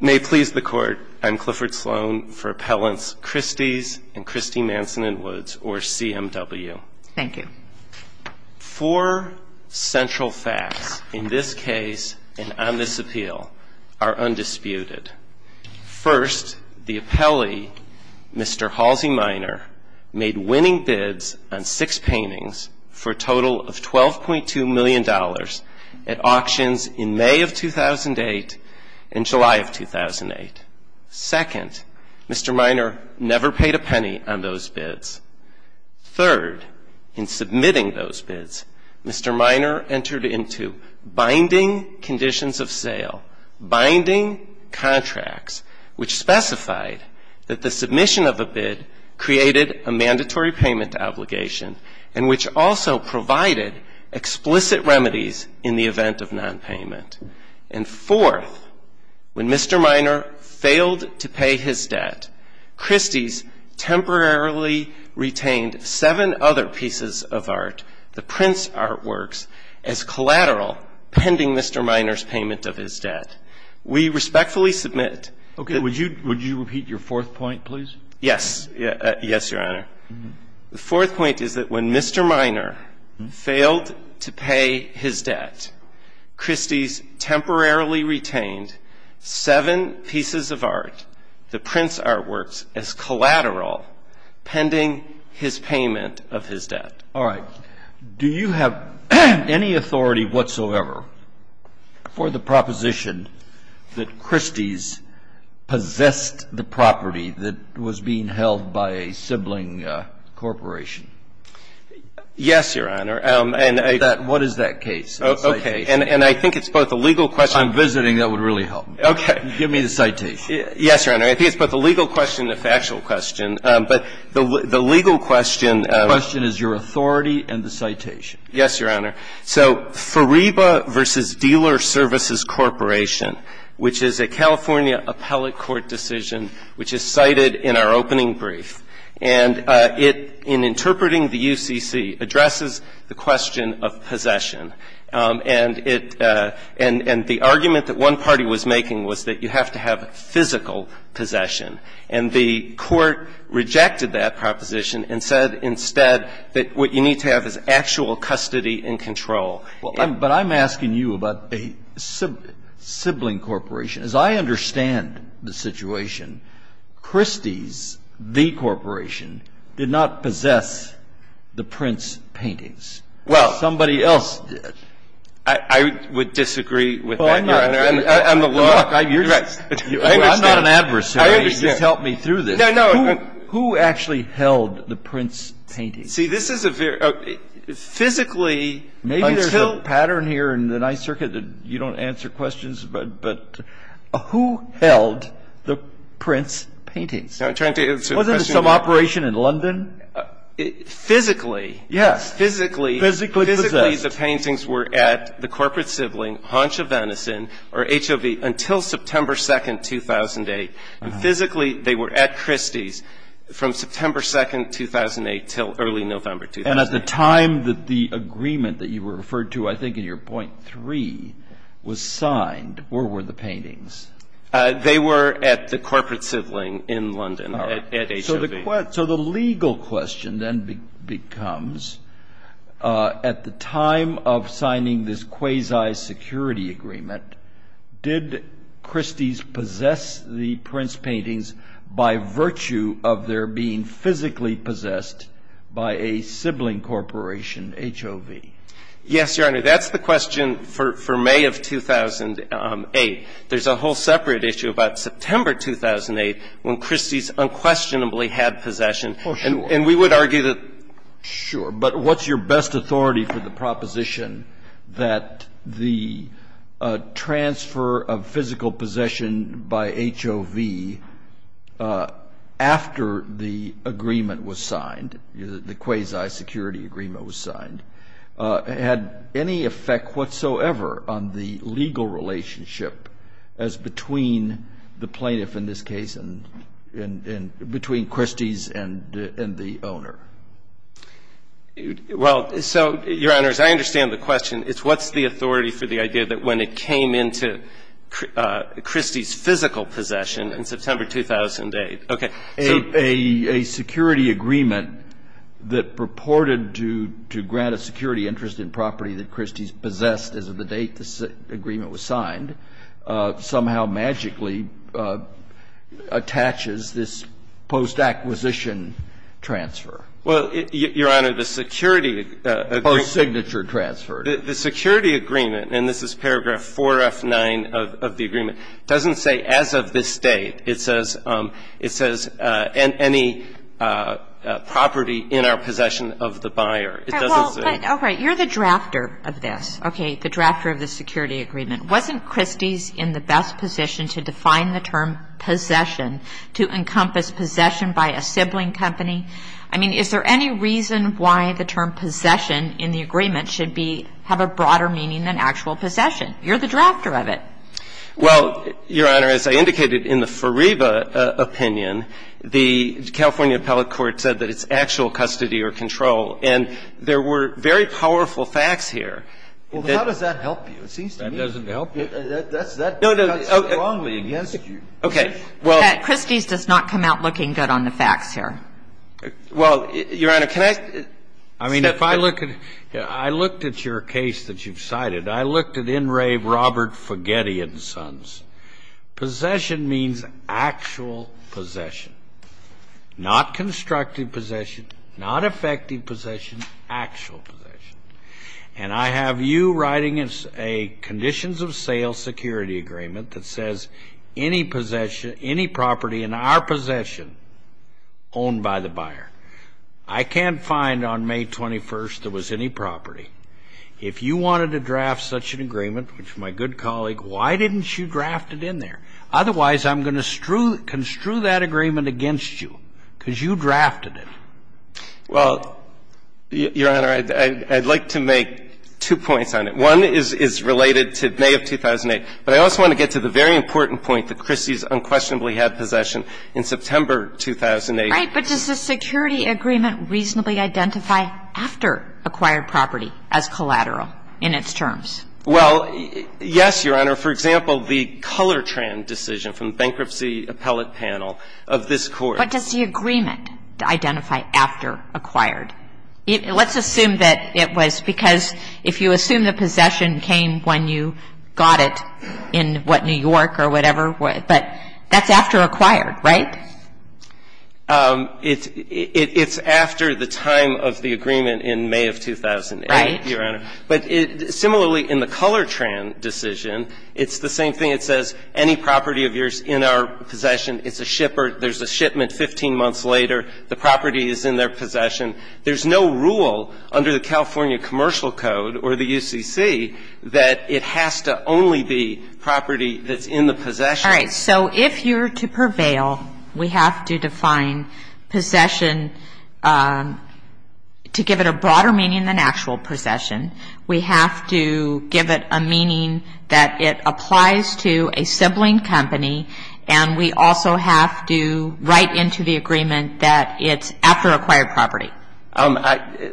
May it please the Court, I'm Clifford Sloan for Appellants Christie's and Christie, Manson & Woods, or CMW. Thank you. Four central facts in this case and on this appeal are undisputed. First, the appellee, Mr. Halsey Minor, made winning bids on six paintings for a total of $12.2 million at auctions in May of 2008 and July of 2008. Second, Mr. Minor never paid a penny on those bids. Third, in submitting those bids, Mr. Minor entered into binding conditions of sale, binding contracts, which specified that the submission of a bid created a mandatory payment obligation and which also provided explicit remedies in the event of nonpayment. And fourth, when Mr. Minor failed to pay his debt, Christie's temporarily retained seven other pieces of art, the Prince Artworks, as collateral pending Mr. Minor's payment of his debt. All right. Do you have any authority whatsoever for the proposition that Christie's possessed the property that was being held by a sibling corporation? Yes, Your Honor. What is that case? Okay. And I think it's both a legal question. If I'm visiting, that would really help me. Okay. Give me the citation. Yes, Your Honor. I think it's both a legal question and a factual question. But the legal question of the question is your authority and the citation. Yes, Your Honor. So Fariba v. Dealer Services Corporation, which is a California appellate court decision which is cited in our opening brief, and it, in interpreting the UCC, addresses the question of possession. And it – and the argument that one party was making was that you have to have physical possession. And the Court rejected that proposition and said instead that what you need to have is actual custody and control. Well, but I'm asking you about a sibling corporation. As I understand the situation, Christie's, the corporation, did not possess the Prince paintings. Well. Somebody else did. I would disagree with that, Your Honor. Well, I'm not. I'm a lawyer. I understand. I'm not an adversary. You just helped me through this. No, no. Who actually held the Prince paintings? See, this is a very – physically until – Maybe there's a pattern here in the Ninth Circuit that you don't answer questions, but who held the Prince paintings? I'm trying to answer the question – Wasn't it some operation in London? Physically. Yes. Physically. Physically possessed. Physically, the paintings were at the corporate sibling, Honcha-Venison, or HOV, until September 2, 2008. Physically, they were at Christie's from September 2, 2008 until early November 2008. And at the time that the agreement that you referred to, I think in your point three, was signed, where were the paintings? They were at the corporate sibling in London, at HOV. So the legal question then becomes, at the time of signing this quasi-security agreement, did Christie's possess the Prince paintings by virtue of their being physically possessed by a sibling corporation, HOV? Yes, Your Honor, that's the question for May of 2008. There's a whole separate issue about September 2008, when Christie's unquestionably had possession. Oh, sure. And we would argue that – Sure. But what's your best authority for the proposition that the transfer of physical possession by HOV after the agreement was signed, the quasi-security agreement was signed, had any effect whatsoever on the legal relationship as between the plaintiff in this case and between Christie's and the owner? Well, so, Your Honors, I understand the question. It's what's the authority for the idea that when it came into Christie's physical possession in September 2008. Okay. So a security agreement that purported to grant a security interest in property that Christie's possessed as of the date this agreement was signed somehow magically attaches this post-acquisition transfer? Well, Your Honor, the security agreement. Post-signature transfer. The security agreement, and this is paragraph 4F9 of the agreement, doesn't say as of this date. It says any property in our possession of the buyer. It doesn't say. All right. You're the drafter of this. Okay. The drafter of the security agreement. Wasn't Christie's in the best position to define the term possession, to encompass possession by a sibling company? I mean, is there any reason why the term possession in the agreement should be, have a broader meaning than actual possession? You're the drafter of it. Well, Your Honor, as I indicated in the Fariba opinion, the California appellate court said that it's actual custody or control. And there were very powerful facts here. Well, how does that help you? That doesn't help you. No, no. Okay. Christie's does not come out looking good on the facts here. Well, Your Honor, can I? I mean, if I look at, I looked at your case that you've cited. I looked at in rave Robert Fagedian's sons. Possession means actual possession, not constructed possession, not effective possession, actual possession. And I have you writing a conditions of sale security agreement that says any possession, any property in our possession owned by the buyer. I can't find on May 21st there was any property. If you wanted to draft such an agreement, which my good colleague, why didn't you draft it in there? Otherwise, I'm going to construe that agreement against you because you drafted it. Well, Your Honor, I'd like to make two points on it. One is related to May of 2008. But I also want to get to the very important point that Christie's unquestionably had possession in September 2008. Right. But does the security agreement reasonably identify after acquired property as collateral in its terms? Well, yes, Your Honor. For example, the Colortran decision from bankruptcy appellate panel of this Court. But does the agreement identify after acquired? Let's assume that it was because if you assume the possession came when you got it in, what, New York or whatever, but that's after acquired, right? It's after the time of the agreement in May of 2008, Your Honor. Right. But similarly, in the Colortran decision, it's the same thing. It says any property of yours in our possession is a shipper. There's a shipment 15 months later. The property is in their possession. There's no rule under the California Commercial Code or the UCC that it has to only be property that's in the possession. All right. So if you're to prevail, we have to define possession to give it a broader meaning than actual possession. We have to give it a meaning that it applies to a sibling company, and we also have to write into the agreement that it's after acquired property.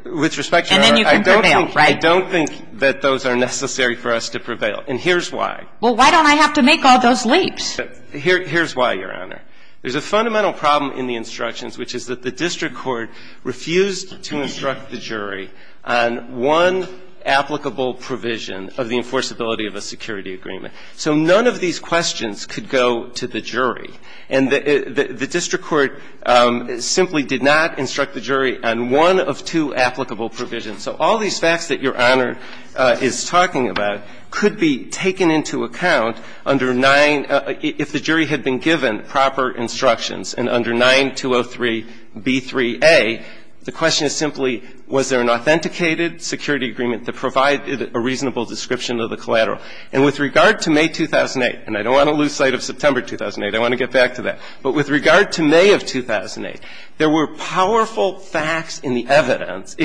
With respect, Your Honor, I don't think that those are necessary for us to prevail. And here's why. Well, why don't I have to make all those leaps? Here's why, Your Honor. There's a fundamental problem in the instructions, which is that the district court refused to instruct the jury on one applicable provision of the enforceability of a security agreement. So none of these questions could go to the jury. And the district court simply did not instruct the jury on one of two applicable provisions. So all these facts that Your Honor is talking about could be taken into account if the jury had been given proper instructions. And under 9203b3a, the question is simply was there an authenticated security agreement that provided a reasonable description of the collateral. And with regard to May 2008, and I don't want to lose sight of September 2008. I want to get back to that. But with regard to May of 2008, there were powerful facts in the evidence,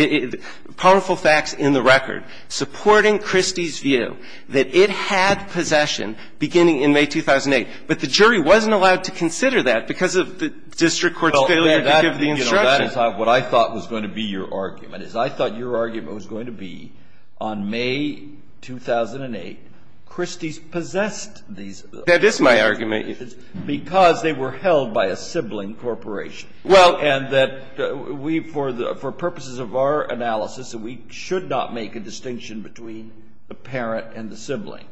powerful facts in the record, supporting Christie's view that it had possession beginning in May 2008. But the jury wasn't allowed to consider that because of the district court's failure to give the instruction. Well, that is what I thought was going to be your argument, is I thought your argument was going to be on May 2008, Christie's possessed these. That is my argument. Because they were held by a sibling corporation. Well. And that we, for purposes of our analysis, that we should not make a distinction between the parent and the sibling.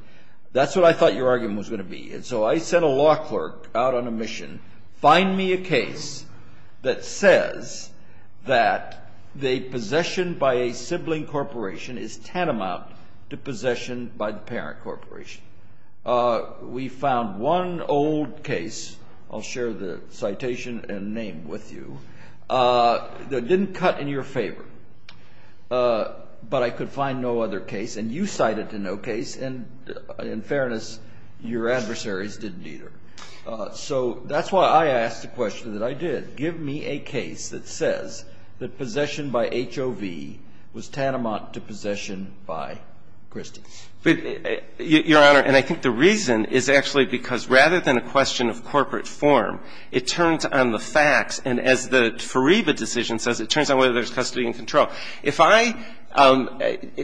That's what I thought your argument was going to be. And so I sent a law clerk out on a mission, find me a case that says that the possession by a sibling corporation is tantamount to possession by the parent corporation. We found one old case, I'll share the citation and name with you, that didn't cut in your favor. But I could find no other case. And you cited no case. And in fairness, your adversaries didn't either. So that's why I asked the question that I did. Give me a case that says that possession by HOV was tantamount to possession by Christie. Your Honor, and I think the reason is actually because rather than a question of corporate form, it turns on the facts. And as the Fariba decision says, it turns on whether there's custody and control. If I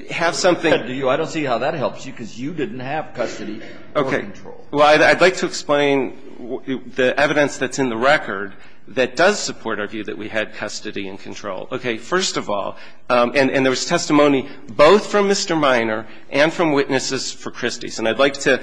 have something. I don't see how that helps you, because you didn't have custody or control. Well, I'd like to explain the evidence that's in the record that does support our view that we had custody and control. Okay. First of all, and there was testimony both from Mr. Minor and from witnesses for Christie's. And I'd like to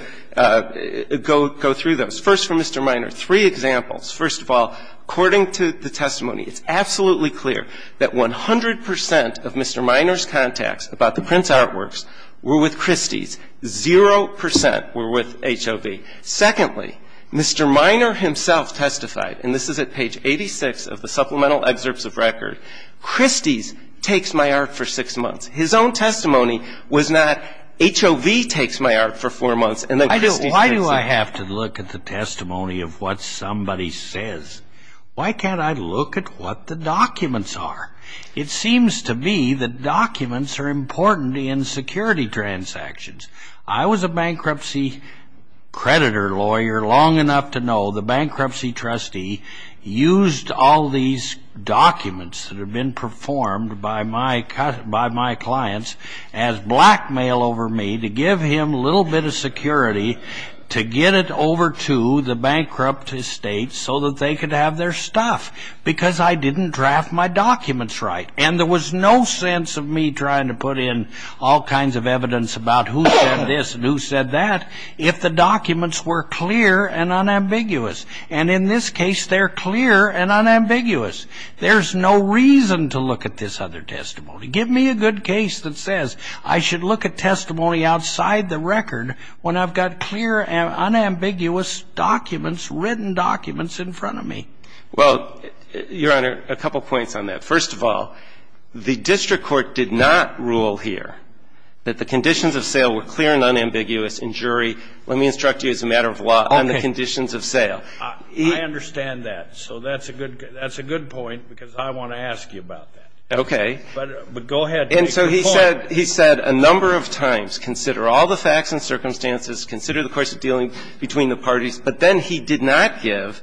go through those. First, from Mr. Minor, three examples. First of all, according to the testimony, it's absolutely clear that 100 percent of Mr. Minor's contacts about the Prince Artworks were with Christie's. Zero percent were with HOV. Secondly, Mr. Minor himself testified, and this is at page 86 of the supplemental excerpts of record, Christie's takes my art for six months. His own testimony was not HOV takes my art for four months and then Christie's takes it. Why do I have to look at the testimony of what somebody says? Why can't I look at what the documents are? It seems to me that documents are important in security transactions. I was a bankruptcy creditor lawyer long enough to know the bankruptcy trustee used all these documents that had been performed by my clients as blackmail over me to give him a little bit of security to get it over to the bankrupt estate so that they could have their stuff because I didn't draft my documents right. And there was no sense of me trying to put in all kinds of evidence about who said this and who said that if the documents were clear and unambiguous. And in this case, they're clear and unambiguous. There's no reason to look at this other testimony. Give me a good case that says I should look at testimony outside the record when I've got clear and unambiguous documents, written documents in front of me. Well, Your Honor, a couple points on that. First of all, the district court did not rule here that the conditions of sale were clear and unambiguous, and, jury, let me instruct you as a matter of law on the conditions of sale. I understand that. So that's a good point because I want to ask you about that. Okay. But go ahead. And so he said a number of times, consider all the facts and circumstances, consider the course of dealing between the parties, but then he did not give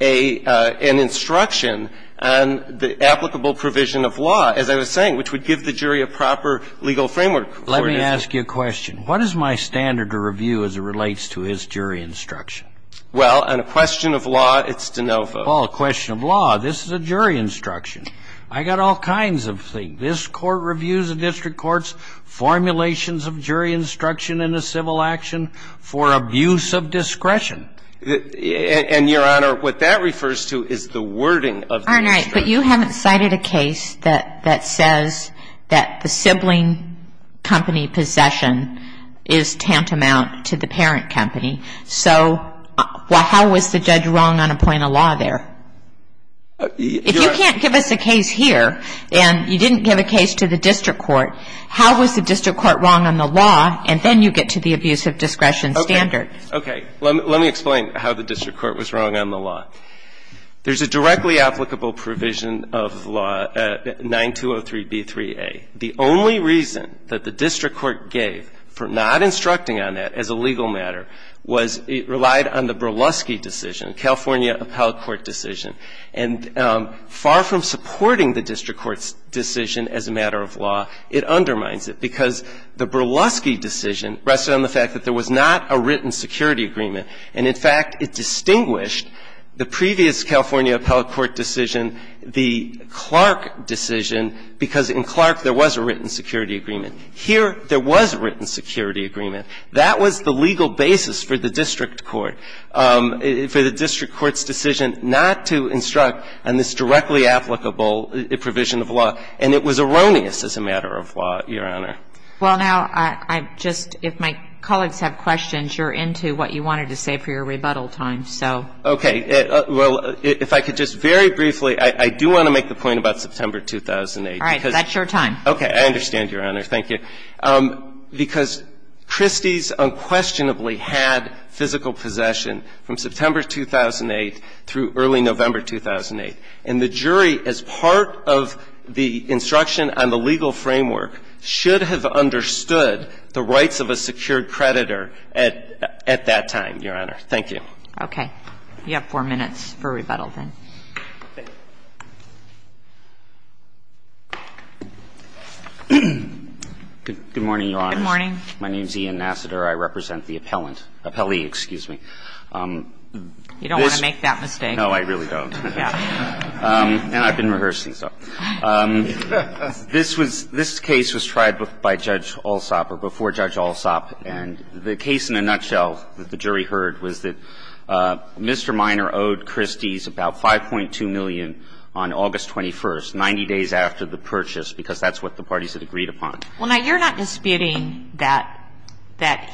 an instruction on the applicable provision of law, as I was saying, which would give the jury a proper legal framework. Let me ask you a question. What is my standard of review as it relates to his jury instruction? Well, on a question of law, it's de novo. Well, a question of law. This is a jury instruction. I got all kinds of things. This Court reviews a district court's formulations of jury instruction in a civil action for abuse of discretion. And, Your Honor, what that refers to is the wording of the instruction. But you haven't cited a case that says that the sibling company possession is tantamount to the parent company. So how was the judge wrong on a point of law there? If you can't give us a case here and you didn't give a case to the district court, how was the district court wrong on the law, and then you get to the abuse of discretion standard? Okay. Let me explain how the district court was wrong on the law. There's a directly applicable provision of law, 9203b3a. The only reason that the district court gave for not instructing on that as a legal matter was it relied on the Berluschi decision, California appellate court decision. And far from supporting the district court's decision as a matter of law, it undermines it, because the Berluschi decision rested on the fact that there was not a written security agreement. And, in fact, it distinguished the previous California appellate court decision, the Clark decision, because in Clark there was a written security agreement. Here there was a written security agreement. That was the legal basis for the district court, for the district court's decision not to instruct on this directly applicable provision of law. And it was erroneous as a matter of law, Your Honor. Well, now, I've just, if my colleagues have questions, you're into what you wanted to say for your rebuttal time, so. Okay. Well, if I could just very briefly, I do want to make the point about September 2008, because. All right. That's your time. Okay. I understand, Your Honor. Thank you. Because Christie's unquestionably had physical possession from September 2008 through early November 2008. And the jury, as part of the instruction on the legal framework, should have understood the rights of a secured creditor at that time, Your Honor. Thank you. Okay. You have four minutes for rebuttal then. Thank you. Good morning, Your Honor. Good morning. My name is Ian Nassiter. I represent the appellant, appellee, excuse me. You don't want to make that mistake. No, I really don't. And I've been rehearsing, so. This case was tried by Judge Alsop, or before Judge Alsop, and the case in a nutshell that the jury heard was that Mr. Minor owed Christie's about 5.2 million on August 21st, 90 days after the purchase, because that's what the parties had agreed upon. Well, now, you're not disputing that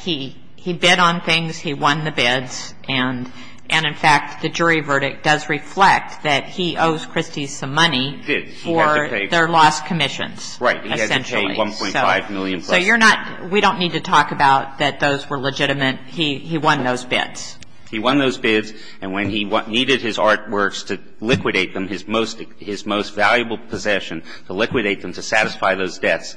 he bid on things, he won the bids, and in fact, the jury verdict does reflect that he owes Christie's some money for their lost commissions, essentially. Right. He had to pay 1.5 million plus. So you're not we don't need to talk about that those were legitimate. He won those bids. He won those bids, and when he needed his artworks to liquidate them, his most valuable possession, to liquidate them, to satisfy those debts,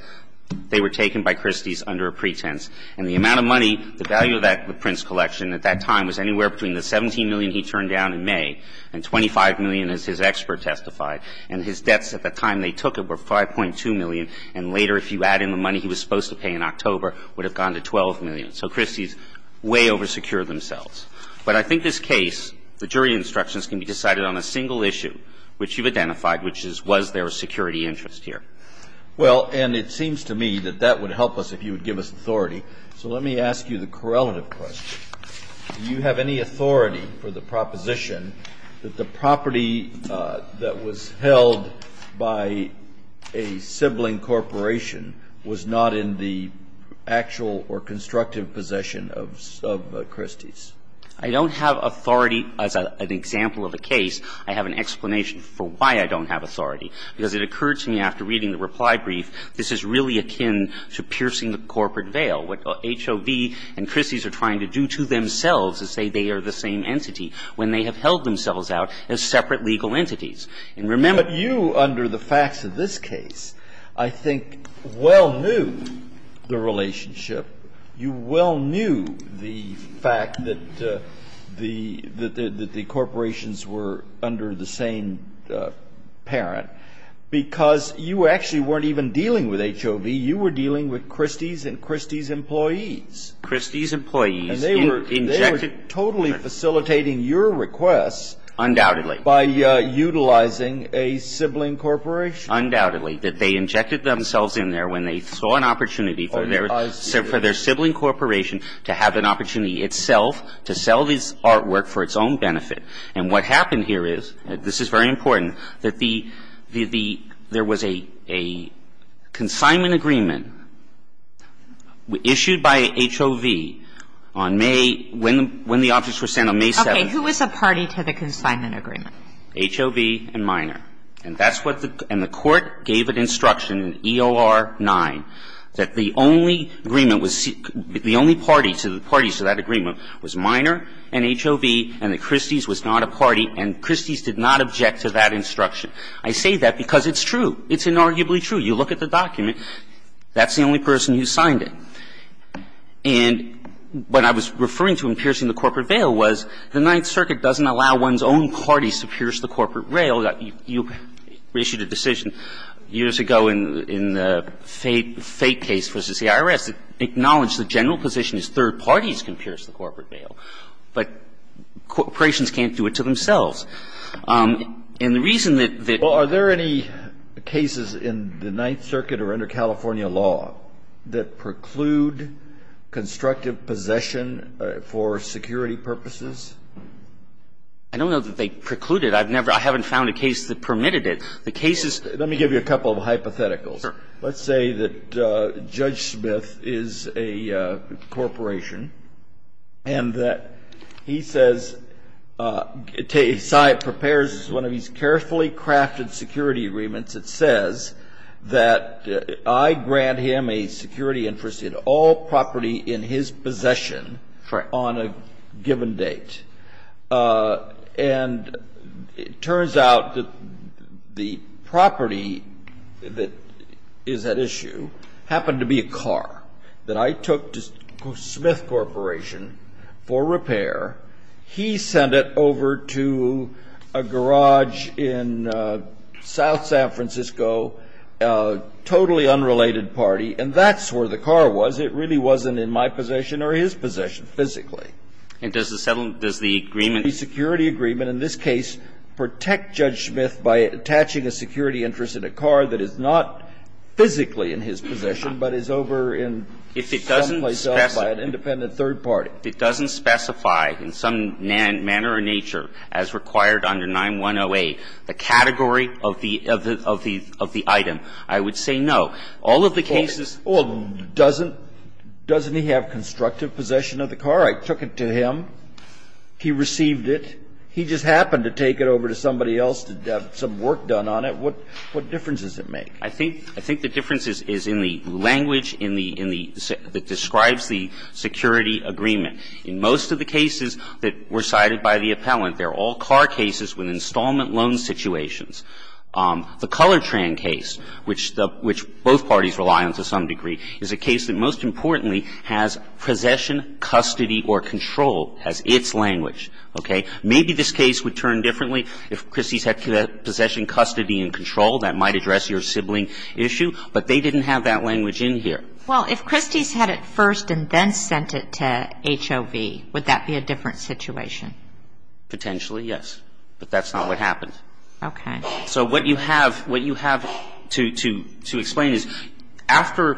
they were taken by Christie's under a pretense. And the amount of money, the value of the Prince Collection at that time was anywhere between the 17 million he turned down in May and 25 million, as his expert testified. And his debts at the time they took it were 5.2 million, and later, if you add in the money he was supposed to pay in October, would have gone to 12 million. So Christie's way oversecured themselves. But I think this case, the jury instructions can be decided on a single issue, which you've identified, which is was there a security interest here. Well, and it seems to me that that would help us if you would give us authority. So let me ask you the correlative question. Do you have any authority for the proposition that the property that was held by a sibling corporation was not in the actual or constructive possession of Christie's? I don't have authority. As an example of a case, I have an explanation for why I don't have authority. Because it occurred to me after reading the reply brief, this is really akin to piercing the corporate veil. What HOV and Christie's are trying to do to themselves is say they are the same entity, when they have held themselves out as separate legal entities. And remember the fact that you, under the facts of this case, I think, well knew the relationship, you well knew the fact that the corporations were under the same parent, because you actually weren't even dealing with HOV, you were dealing with Christie's employees. And they were totally facilitating your requests. Undoubtedly. By utilizing a sibling corporation. Undoubtedly. That they injected themselves in there when they saw an opportunity for their sibling corporation to have an opportunity itself to sell this artwork for its own benefit. And what happened here is, this is very important, that there was a consignment agreement issued by HOV on May, when the objects were sent on May 7th. Okay. Who was a party to the consignment agreement? HOV and Minor. And that's what the court gave an instruction in EOR 9 that the only agreement was, the only party to the parties to that agreement was Minor and HOV, and that Christie's was not a party, and Christie's did not object to that instruction. I say that because it's true. It's inarguably true. You look at the document. That's the only person who signed it. And what I was referring to in piercing the corporate veil was, the Ninth Circuit doesn't allow one's own parties to pierce the corporate rail. You issued a decision years ago in the Fate case v. CIRS that acknowledged the general position is third parties can pierce the corporate veil, but corporations can't do it to themselves. And the reason that the ---- I don't know that they preclude it. I've never ---- I haven't found a case that permitted it. The case is ---- Let me give you a couple of hypotheticals. Sure. Let's say that Judge Smith is a corporation, and that he says ---- prepares one of these I grant him a security interest in all property in his possession on a given date. And it turns out that the property that is at issue happened to be a car that I took to Smith Corporation for repair. He sent it over to a garage in South San Francisco, a totally unrelated party, and that's where the car was. It really wasn't in my possession or his possession physically. And does the settlement ---- does the agreement ---- The security agreement in this case protect Judge Smith by attaching a security interest in a car that is not physically in his possession, but is over in someplace else by an independent third party. If it doesn't specify in some manner or nature, as required under 910A, the category of the item, I would say no. All of the cases ---- Well, doesn't he have constructive possession of the car? I took it to him. He received it. He just happened to take it over to somebody else to have some work done on it. What difference does it make? I think the difference is in the language in the ---- that describes the security agreement. In most of the cases that were cited by the appellant, they're all car cases with installment loan situations. The Colortran case, which both parties rely on to some degree, is a case that most importantly has possession, custody or control as its language. Okay? Maybe this case would turn differently if Christie's had possession, custody and control. That might address your sibling issue. But they didn't have that language in here. Well, if Christie's had it first and then sent it to HOV, would that be a different situation? Potentially, yes. But that's not what happened. Okay. So what you have to explain is after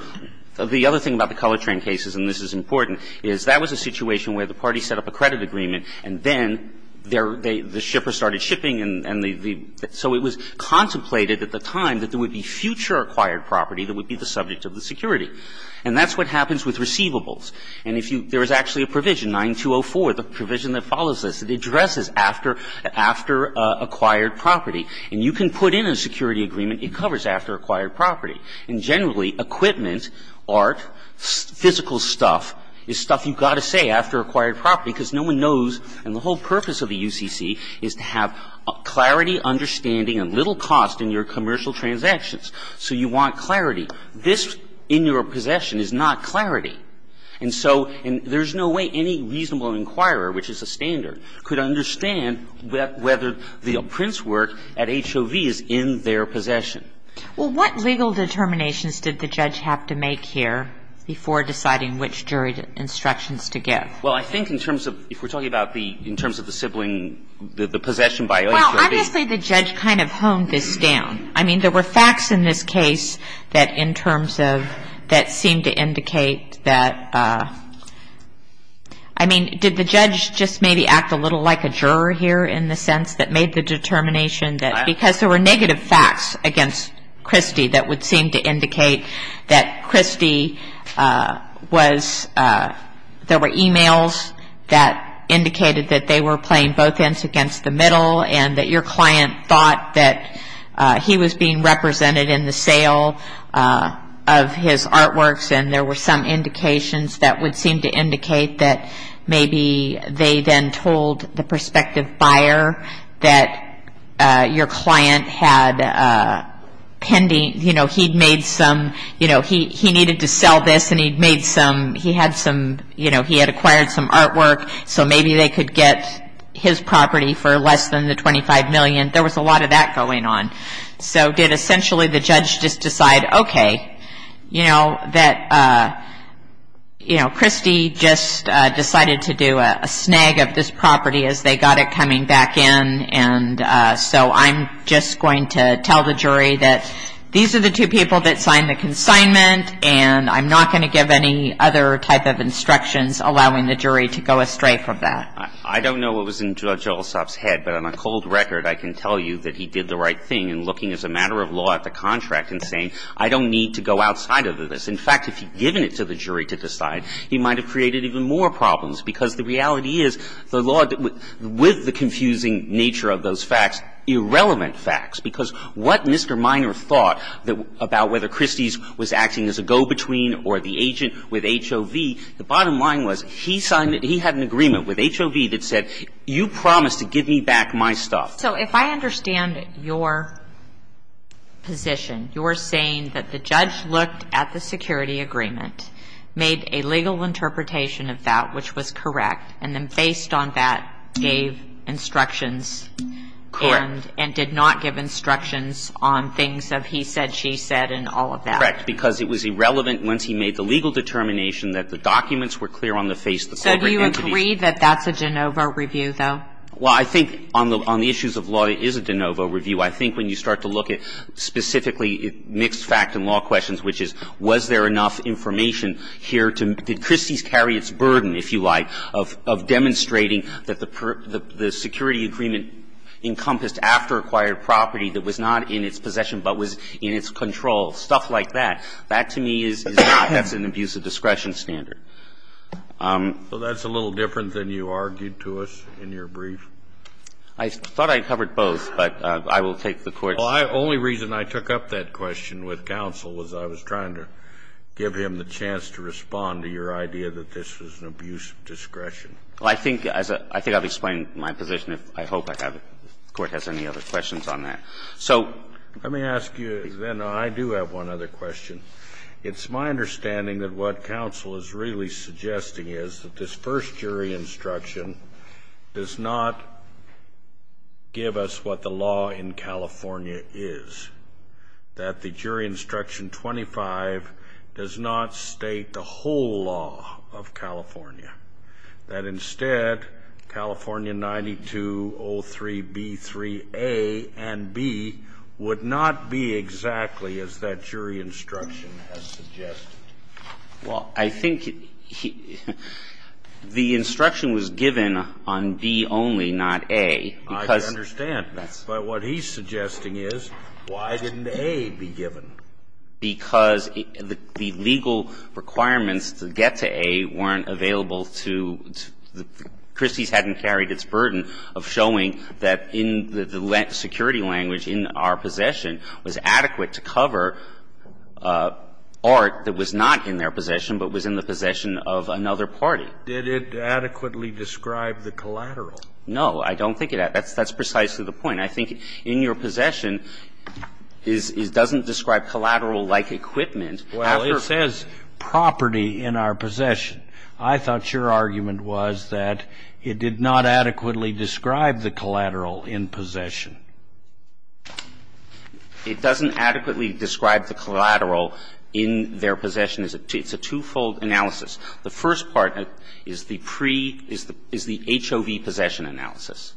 the other thing about the Colortran cases, and this is important, is that was a situation where the party set up a credit agreement, and then the shipper started shipping and the ---- so it was contemplated at the time that there would be future acquired property that would be the subject of the security. And that's what happens with receivables. And if you ---- there is actually a provision, 9204, the provision that follows this. It addresses after acquired property. And you can put in a security agreement, it covers after acquired property. And generally, equipment, art, physical stuff is stuff you've got to say after acquired property, because no one knows, and the whole purpose of the UCC is to have clarity, understanding, and little cost in your commercial transactions. So you want clarity. This in your possession is not clarity. And so there's no way any reasonable inquirer, which is a standard, could understand whether the prints work at HOV is in their possession. Well, what legal determinations did the judge have to make here before deciding which jury instructions to give? Well, I think in terms of ---- if we're talking about the ---- in terms of the sibling and the possession by HOV ---- Well, honestly, the judge kind of honed this down. I mean, there were facts in this case that in terms of ---- that seemed to indicate that ---- I mean, did the judge just maybe act a little like a juror here in the sense that made the determination that because there were negative facts against Christie that would seem to indicate that Christie was ---- there were e-mails that indicated that they were playing both ends against the middle and that your client thought that he was being represented in the sale of his artworks and there were some indications that would seem to indicate that maybe they then told the prospective buyer that your client had pending ---- you know, he'd made some ---- you know, he needed to sell this and he'd made some ---- he had some ---- to get his property for less than the $25 million. There was a lot of that going on. So did essentially the judge just decide, okay, you know, that, you know, Christie just decided to do a snag of this property as they got it coming back in and so I'm just going to tell the jury that these are the two people that signed the consignment and I'm not going to give any other type of instructions allowing the jury to go astray from that. I don't know what was in Judge Olsop's head, but on a cold record I can tell you that he did the right thing in looking as a matter of law at the contract and saying I don't need to go outside of this. In fact, if he'd given it to the jury to decide, he might have created even more problems because the reality is the law with the confusing nature of those facts, irrelevant facts, because what Mr. Minor thought about whether Christie's was acting as a go-between or the agent with HOV, the bottom line was he had an agreement with HOV that said, you promised to give me back my stuff. So if I understand your position, you're saying that the judge looked at the security agreement, made a legal interpretation of that which was correct, and then based on that gave instructions and did not give instructions on things of he said, she said and all of that. Correct, because it was irrelevant once he made the legal determination that the documents were clear on the face of the corporate entity. So do you agree that that's a de novo review, though? Well, I think on the issues of law it is a de novo review. I think when you start to look at specifically mixed fact and law questions, which is was there enough information here to, did Christie's carry its burden, if you like, of demonstrating that the security agreement encompassed after-acquired property that was not in its possession but was in its control, stuff like that, that to me is not an abuse of discretion standard. So that's a little different than you argued to us in your brief? I thought I covered both, but I will take the Court's. Well, the only reason I took up that question with counsel was I was trying to give him the chance to respond to your idea that this was an abuse of discretion. I think I've explained my position. I hope I haven't. If the Court has any other questions on that. So let me ask you, then I do have one other question. It's my understanding that what counsel is really suggesting is that this first jury instruction does not give us what the law in California is, that the jury instruction 25 does not state the whole law of California, that instead California 9203B3A and B would not be exactly as that jury instruction has suggested. Well, I think the instruction was given on B only, not A. I understand. But what he's suggesting is, why didn't A be given? Because the legal requirements to get to A weren't available to the ---- Christie's hadn't carried its burden of showing that in the security language in our possession was adequate to cover art that was not in their possession, but was in the possession of another party. Did it adequately describe the collateral? No, I don't think it did. That's precisely the point. I think in your possession, it doesn't describe collateral like equipment. Well, it says property in our possession. I thought your argument was that it did not adequately describe the collateral in possession. It doesn't adequately describe the collateral in their possession. It's a twofold analysis. The first part is the pre ---- is the HOV possession analysis.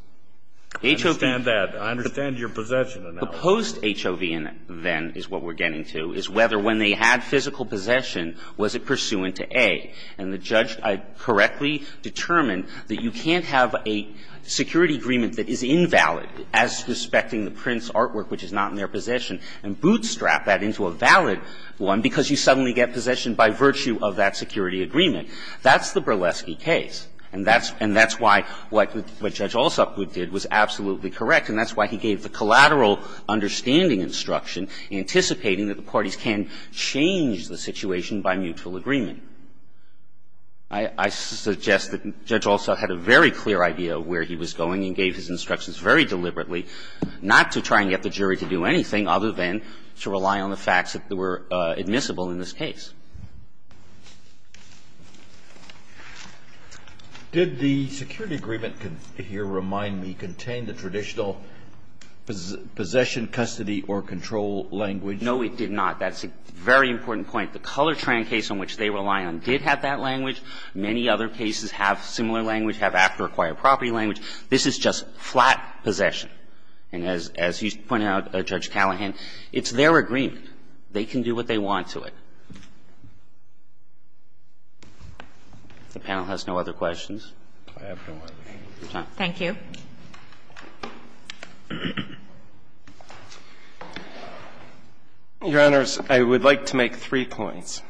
HOV ---- I understand that. I understand your possession analysis. The post HOV then is what we're getting to, is whether when they had physical possession, was it pursuant to A. And the judge correctly determined that you can't have a security agreement that is invalid as respecting the print's artwork, which is not in their possession, and bootstrap that into a valid one because you suddenly get possession by virtue of that security agreement. That's the Berleski case. And that's why what Judge Alsop did was absolutely correct. And that's why he gave the collateral understanding instruction, anticipating that the parties can change the situation by mutual agreement. I suggest that Judge Alsop had a very clear idea of where he was going and gave his instructions very deliberately, not to try and get the jury to do anything other than to rely on the facts that were admissible in this case. Did the security agreement, if you'll remind me, contain the traditional possession, custody or control language? No, it did not. That's a very important point. The Colortran case on which they rely on did have that language. Many other cases have similar language, have after-acquired property language. This is just flat possession. And as you pointed out, Judge Callahan, it's their agreement. They can do what they want to it. If the panel has no other questions. Thank you. Your Honors, I would like to make three points.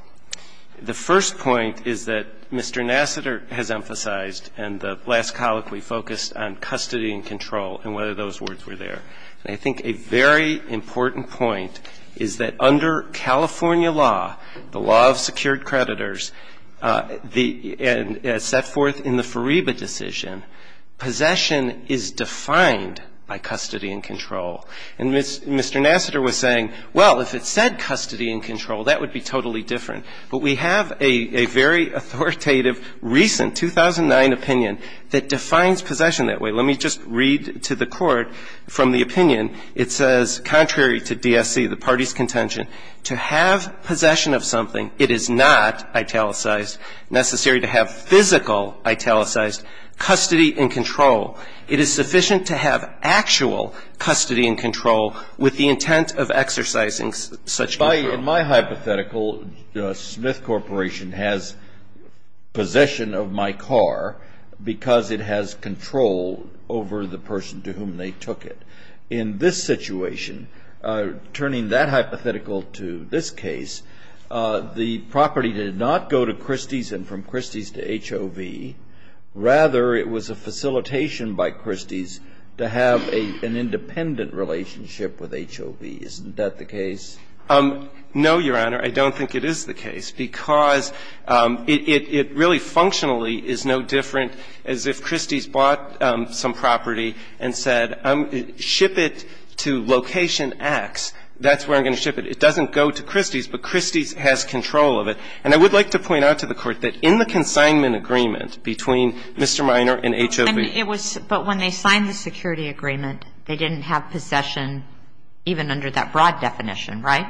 The first point is that Mr. Nassiter has emphasized, and the last colloquy is that the jury has to be focused on custody and control and whether those words were there. And I think a very important point is that under California law, the law of secured creditors, the set forth in the Fariba decision, possession is defined by custody and control. And Mr. Nassiter was saying, well, if it said custody and control, that would be totally different. But we have a very authoritative recent 2009 opinion that defines possession that way. Let me just read to the Court from the opinion. It says, contrary to DSC, the party's contention, to have possession of something, it is not italicized, necessary to have physical italicized, custody and control. It is sufficient to have actual custody and control with the intent of exercising such control. In my hypothetical, Smith Corporation has possession of my car because it has control over the person to whom they took it. In this situation, turning that hypothetical to this case, the property did not go to Christie's and from Christie's to HOV. Rather, it was a facilitation by Christie's to have an independent relationship with HOV. Is that the case? No, Your Honor. I don't think it is the case, because it really functionally is no different as if Christie's bought some property and said, ship it to location X. That's where I'm going to ship it. It doesn't go to Christie's, but Christie's has control of it. And I would like to point out to the Court that in the consignment agreement between Mr. Minor and HOV. But when they signed the security agreement, they didn't have possession even under that broad definition, right?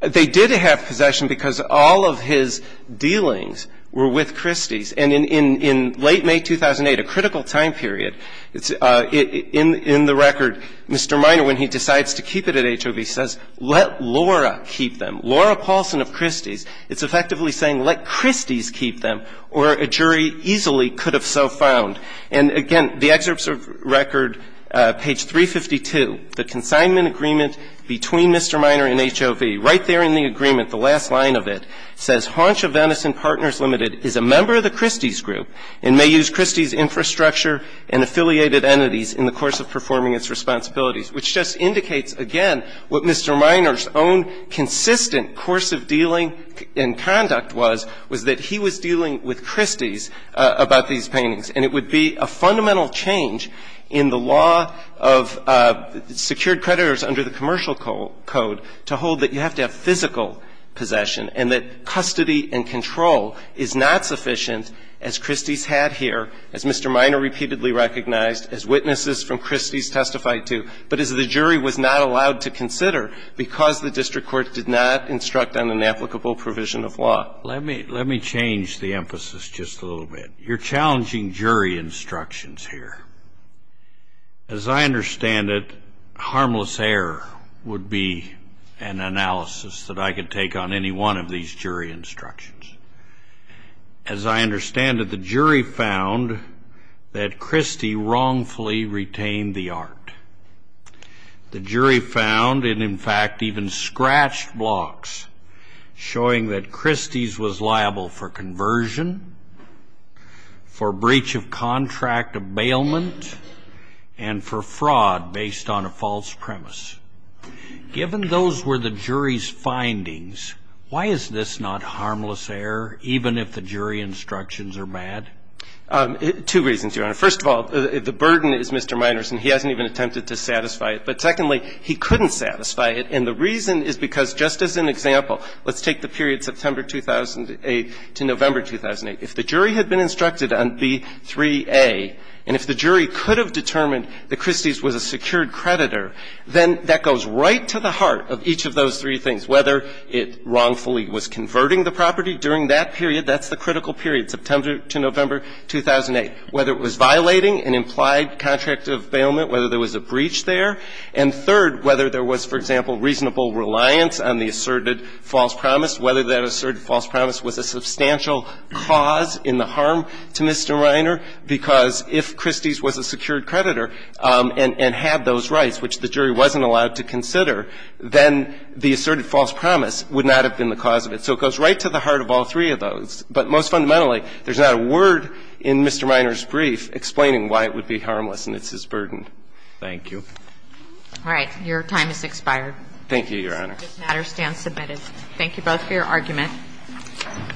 They did have possession because all of his dealings were with Christie's. And in late May 2008, a critical time period, in the record, Mr. Minor, when he decides to keep it at HOV, says, let Laura keep them. Laura Paulson of Christie's, it's effectively saying, let Christie's keep them, or a jury easily could have so found. And again, the excerpts of record, page 352, the consignment agreement between Mr. Minor and HOV, right there in the agreement, the last line of it, says Haunch of Venice and Partners Limited is a member of the Christie's group and may use Christie's infrastructure and affiliated entities in the course of performing its responsibilities, which just indicates, again, what Mr. Minor's own consistent course of dealing and conduct was, was that he was dealing with Christie's about these paintings. And it would be a fundamental change in the law of secured creditors under the commercial code to hold that you have to have physical possession and that custody and control is not sufficient, as Christie's had here, as Mr. Minor repeatedly recognized, as witnesses from Christie's testified to, but as the jury was not allowed to consider because the district court did not instruct on an applicable provision of law. Let me change the emphasis just a little bit. You're challenging jury instructions here. As I understand it, harmless error would be an analysis that I could take on any one of these jury instructions. As I understand it, the jury found that Christie wrongfully retained the art. The jury found and, in fact, even scratched blocks showing that Christie's was liable for conversion, for breach of contract abatement, and for fraud based on a false premise. Given those were the jury's findings, why is this not harmless error, even if the jury instructions are bad? Two reasons, Your Honor. First of all, the burden is Mr. Minor's, and he hasn't even attempted to satisfy it. But secondly, he couldn't satisfy it, and the reason is because, just as an example, let's take the period September 2008 to November 2008. If the jury had been instructed on B3A, and if the jury could have determined that Christie's was a secured creditor, then that goes right to the heart of each of those three things, whether it wrongfully was converting the property during that period. That's the critical period, September to November 2008. Whether it was violating an implied contract of bailment, whether there was a breach there, and third, whether there was, for example, reasonable reliance on the asserted false promise, whether that asserted false promise was a substantial cause in the harm to Mr. Minor, because if Christie's was a secured creditor and had those rights, which the jury wasn't allowed to consider, then the asserted false promise would not have been the cause of it. So it goes right to the heart of all three of those. But most fundamentally, there's not a word in Mr. Minor's brief explaining why it would be harmless, and it's his burden. Thank you. All right. Your time has expired. Thank you, Your Honor. This matter stands submitted. Thank you both for your argument. Thank you, Your Honor.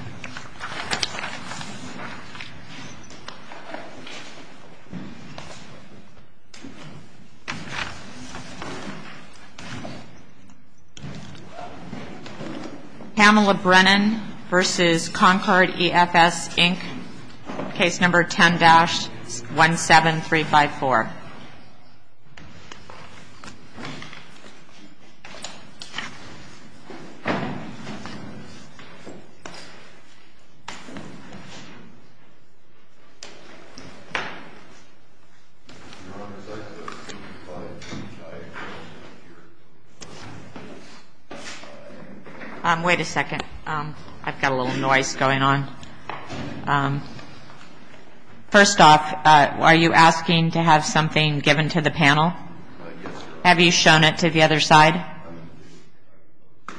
Wait a second. I've got a little noise going on. First off, are you asking to have something given to the panel? Yes, Your Honor. Do you want it to the other side?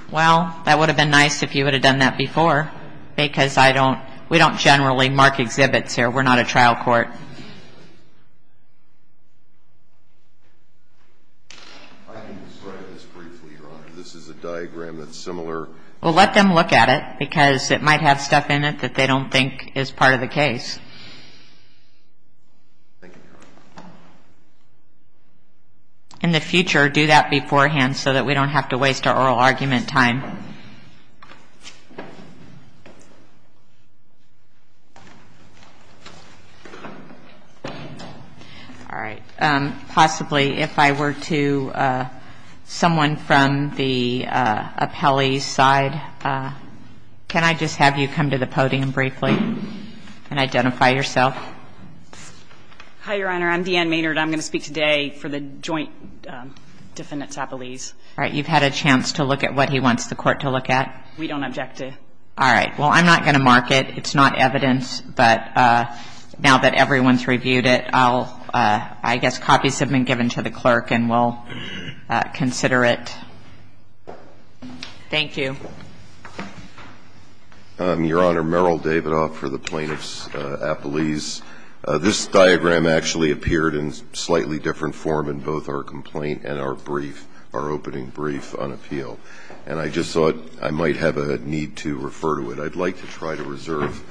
Well, that would have been nice if you would have done that before, because I don't we don't generally mark exhibits here. We're not a trial court. I can describe this briefly, Your Honor. This is a diagram that's similar. Well, let them look at it, because it might have stuff in it that they don't think is part of the case. Thank you, Your Honor. In the future, do that beforehand so that we don't have to waste our oral argument time. All right. Possibly, if I were to someone from the appellee's side, can I just have you come to the Hi, Your Honor. I'm Deanne Maynard. I'm going to speak today for the joint defendant's appellees. All right. You've had a chance to look at what he wants the court to look at? We don't object to it. All right. Well, I'm not going to mark it. It's not evidence. But now that everyone's reviewed it, I guess copies have been given to the clerk and we'll consider it. Thank you. Your Honor, Merrill Davidoff for the plaintiff's appellees. This diagram actually appeared in slightly different form in both our complaint and our brief, our opening brief on appeal. And I just thought I might have a need to refer to it. I'd like to try to reserve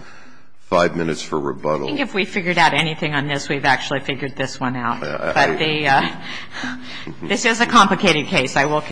five minutes for rebuttal. I think if we figured out anything on this, we've actually figured this one out. But this is a complicated case. I will consider it.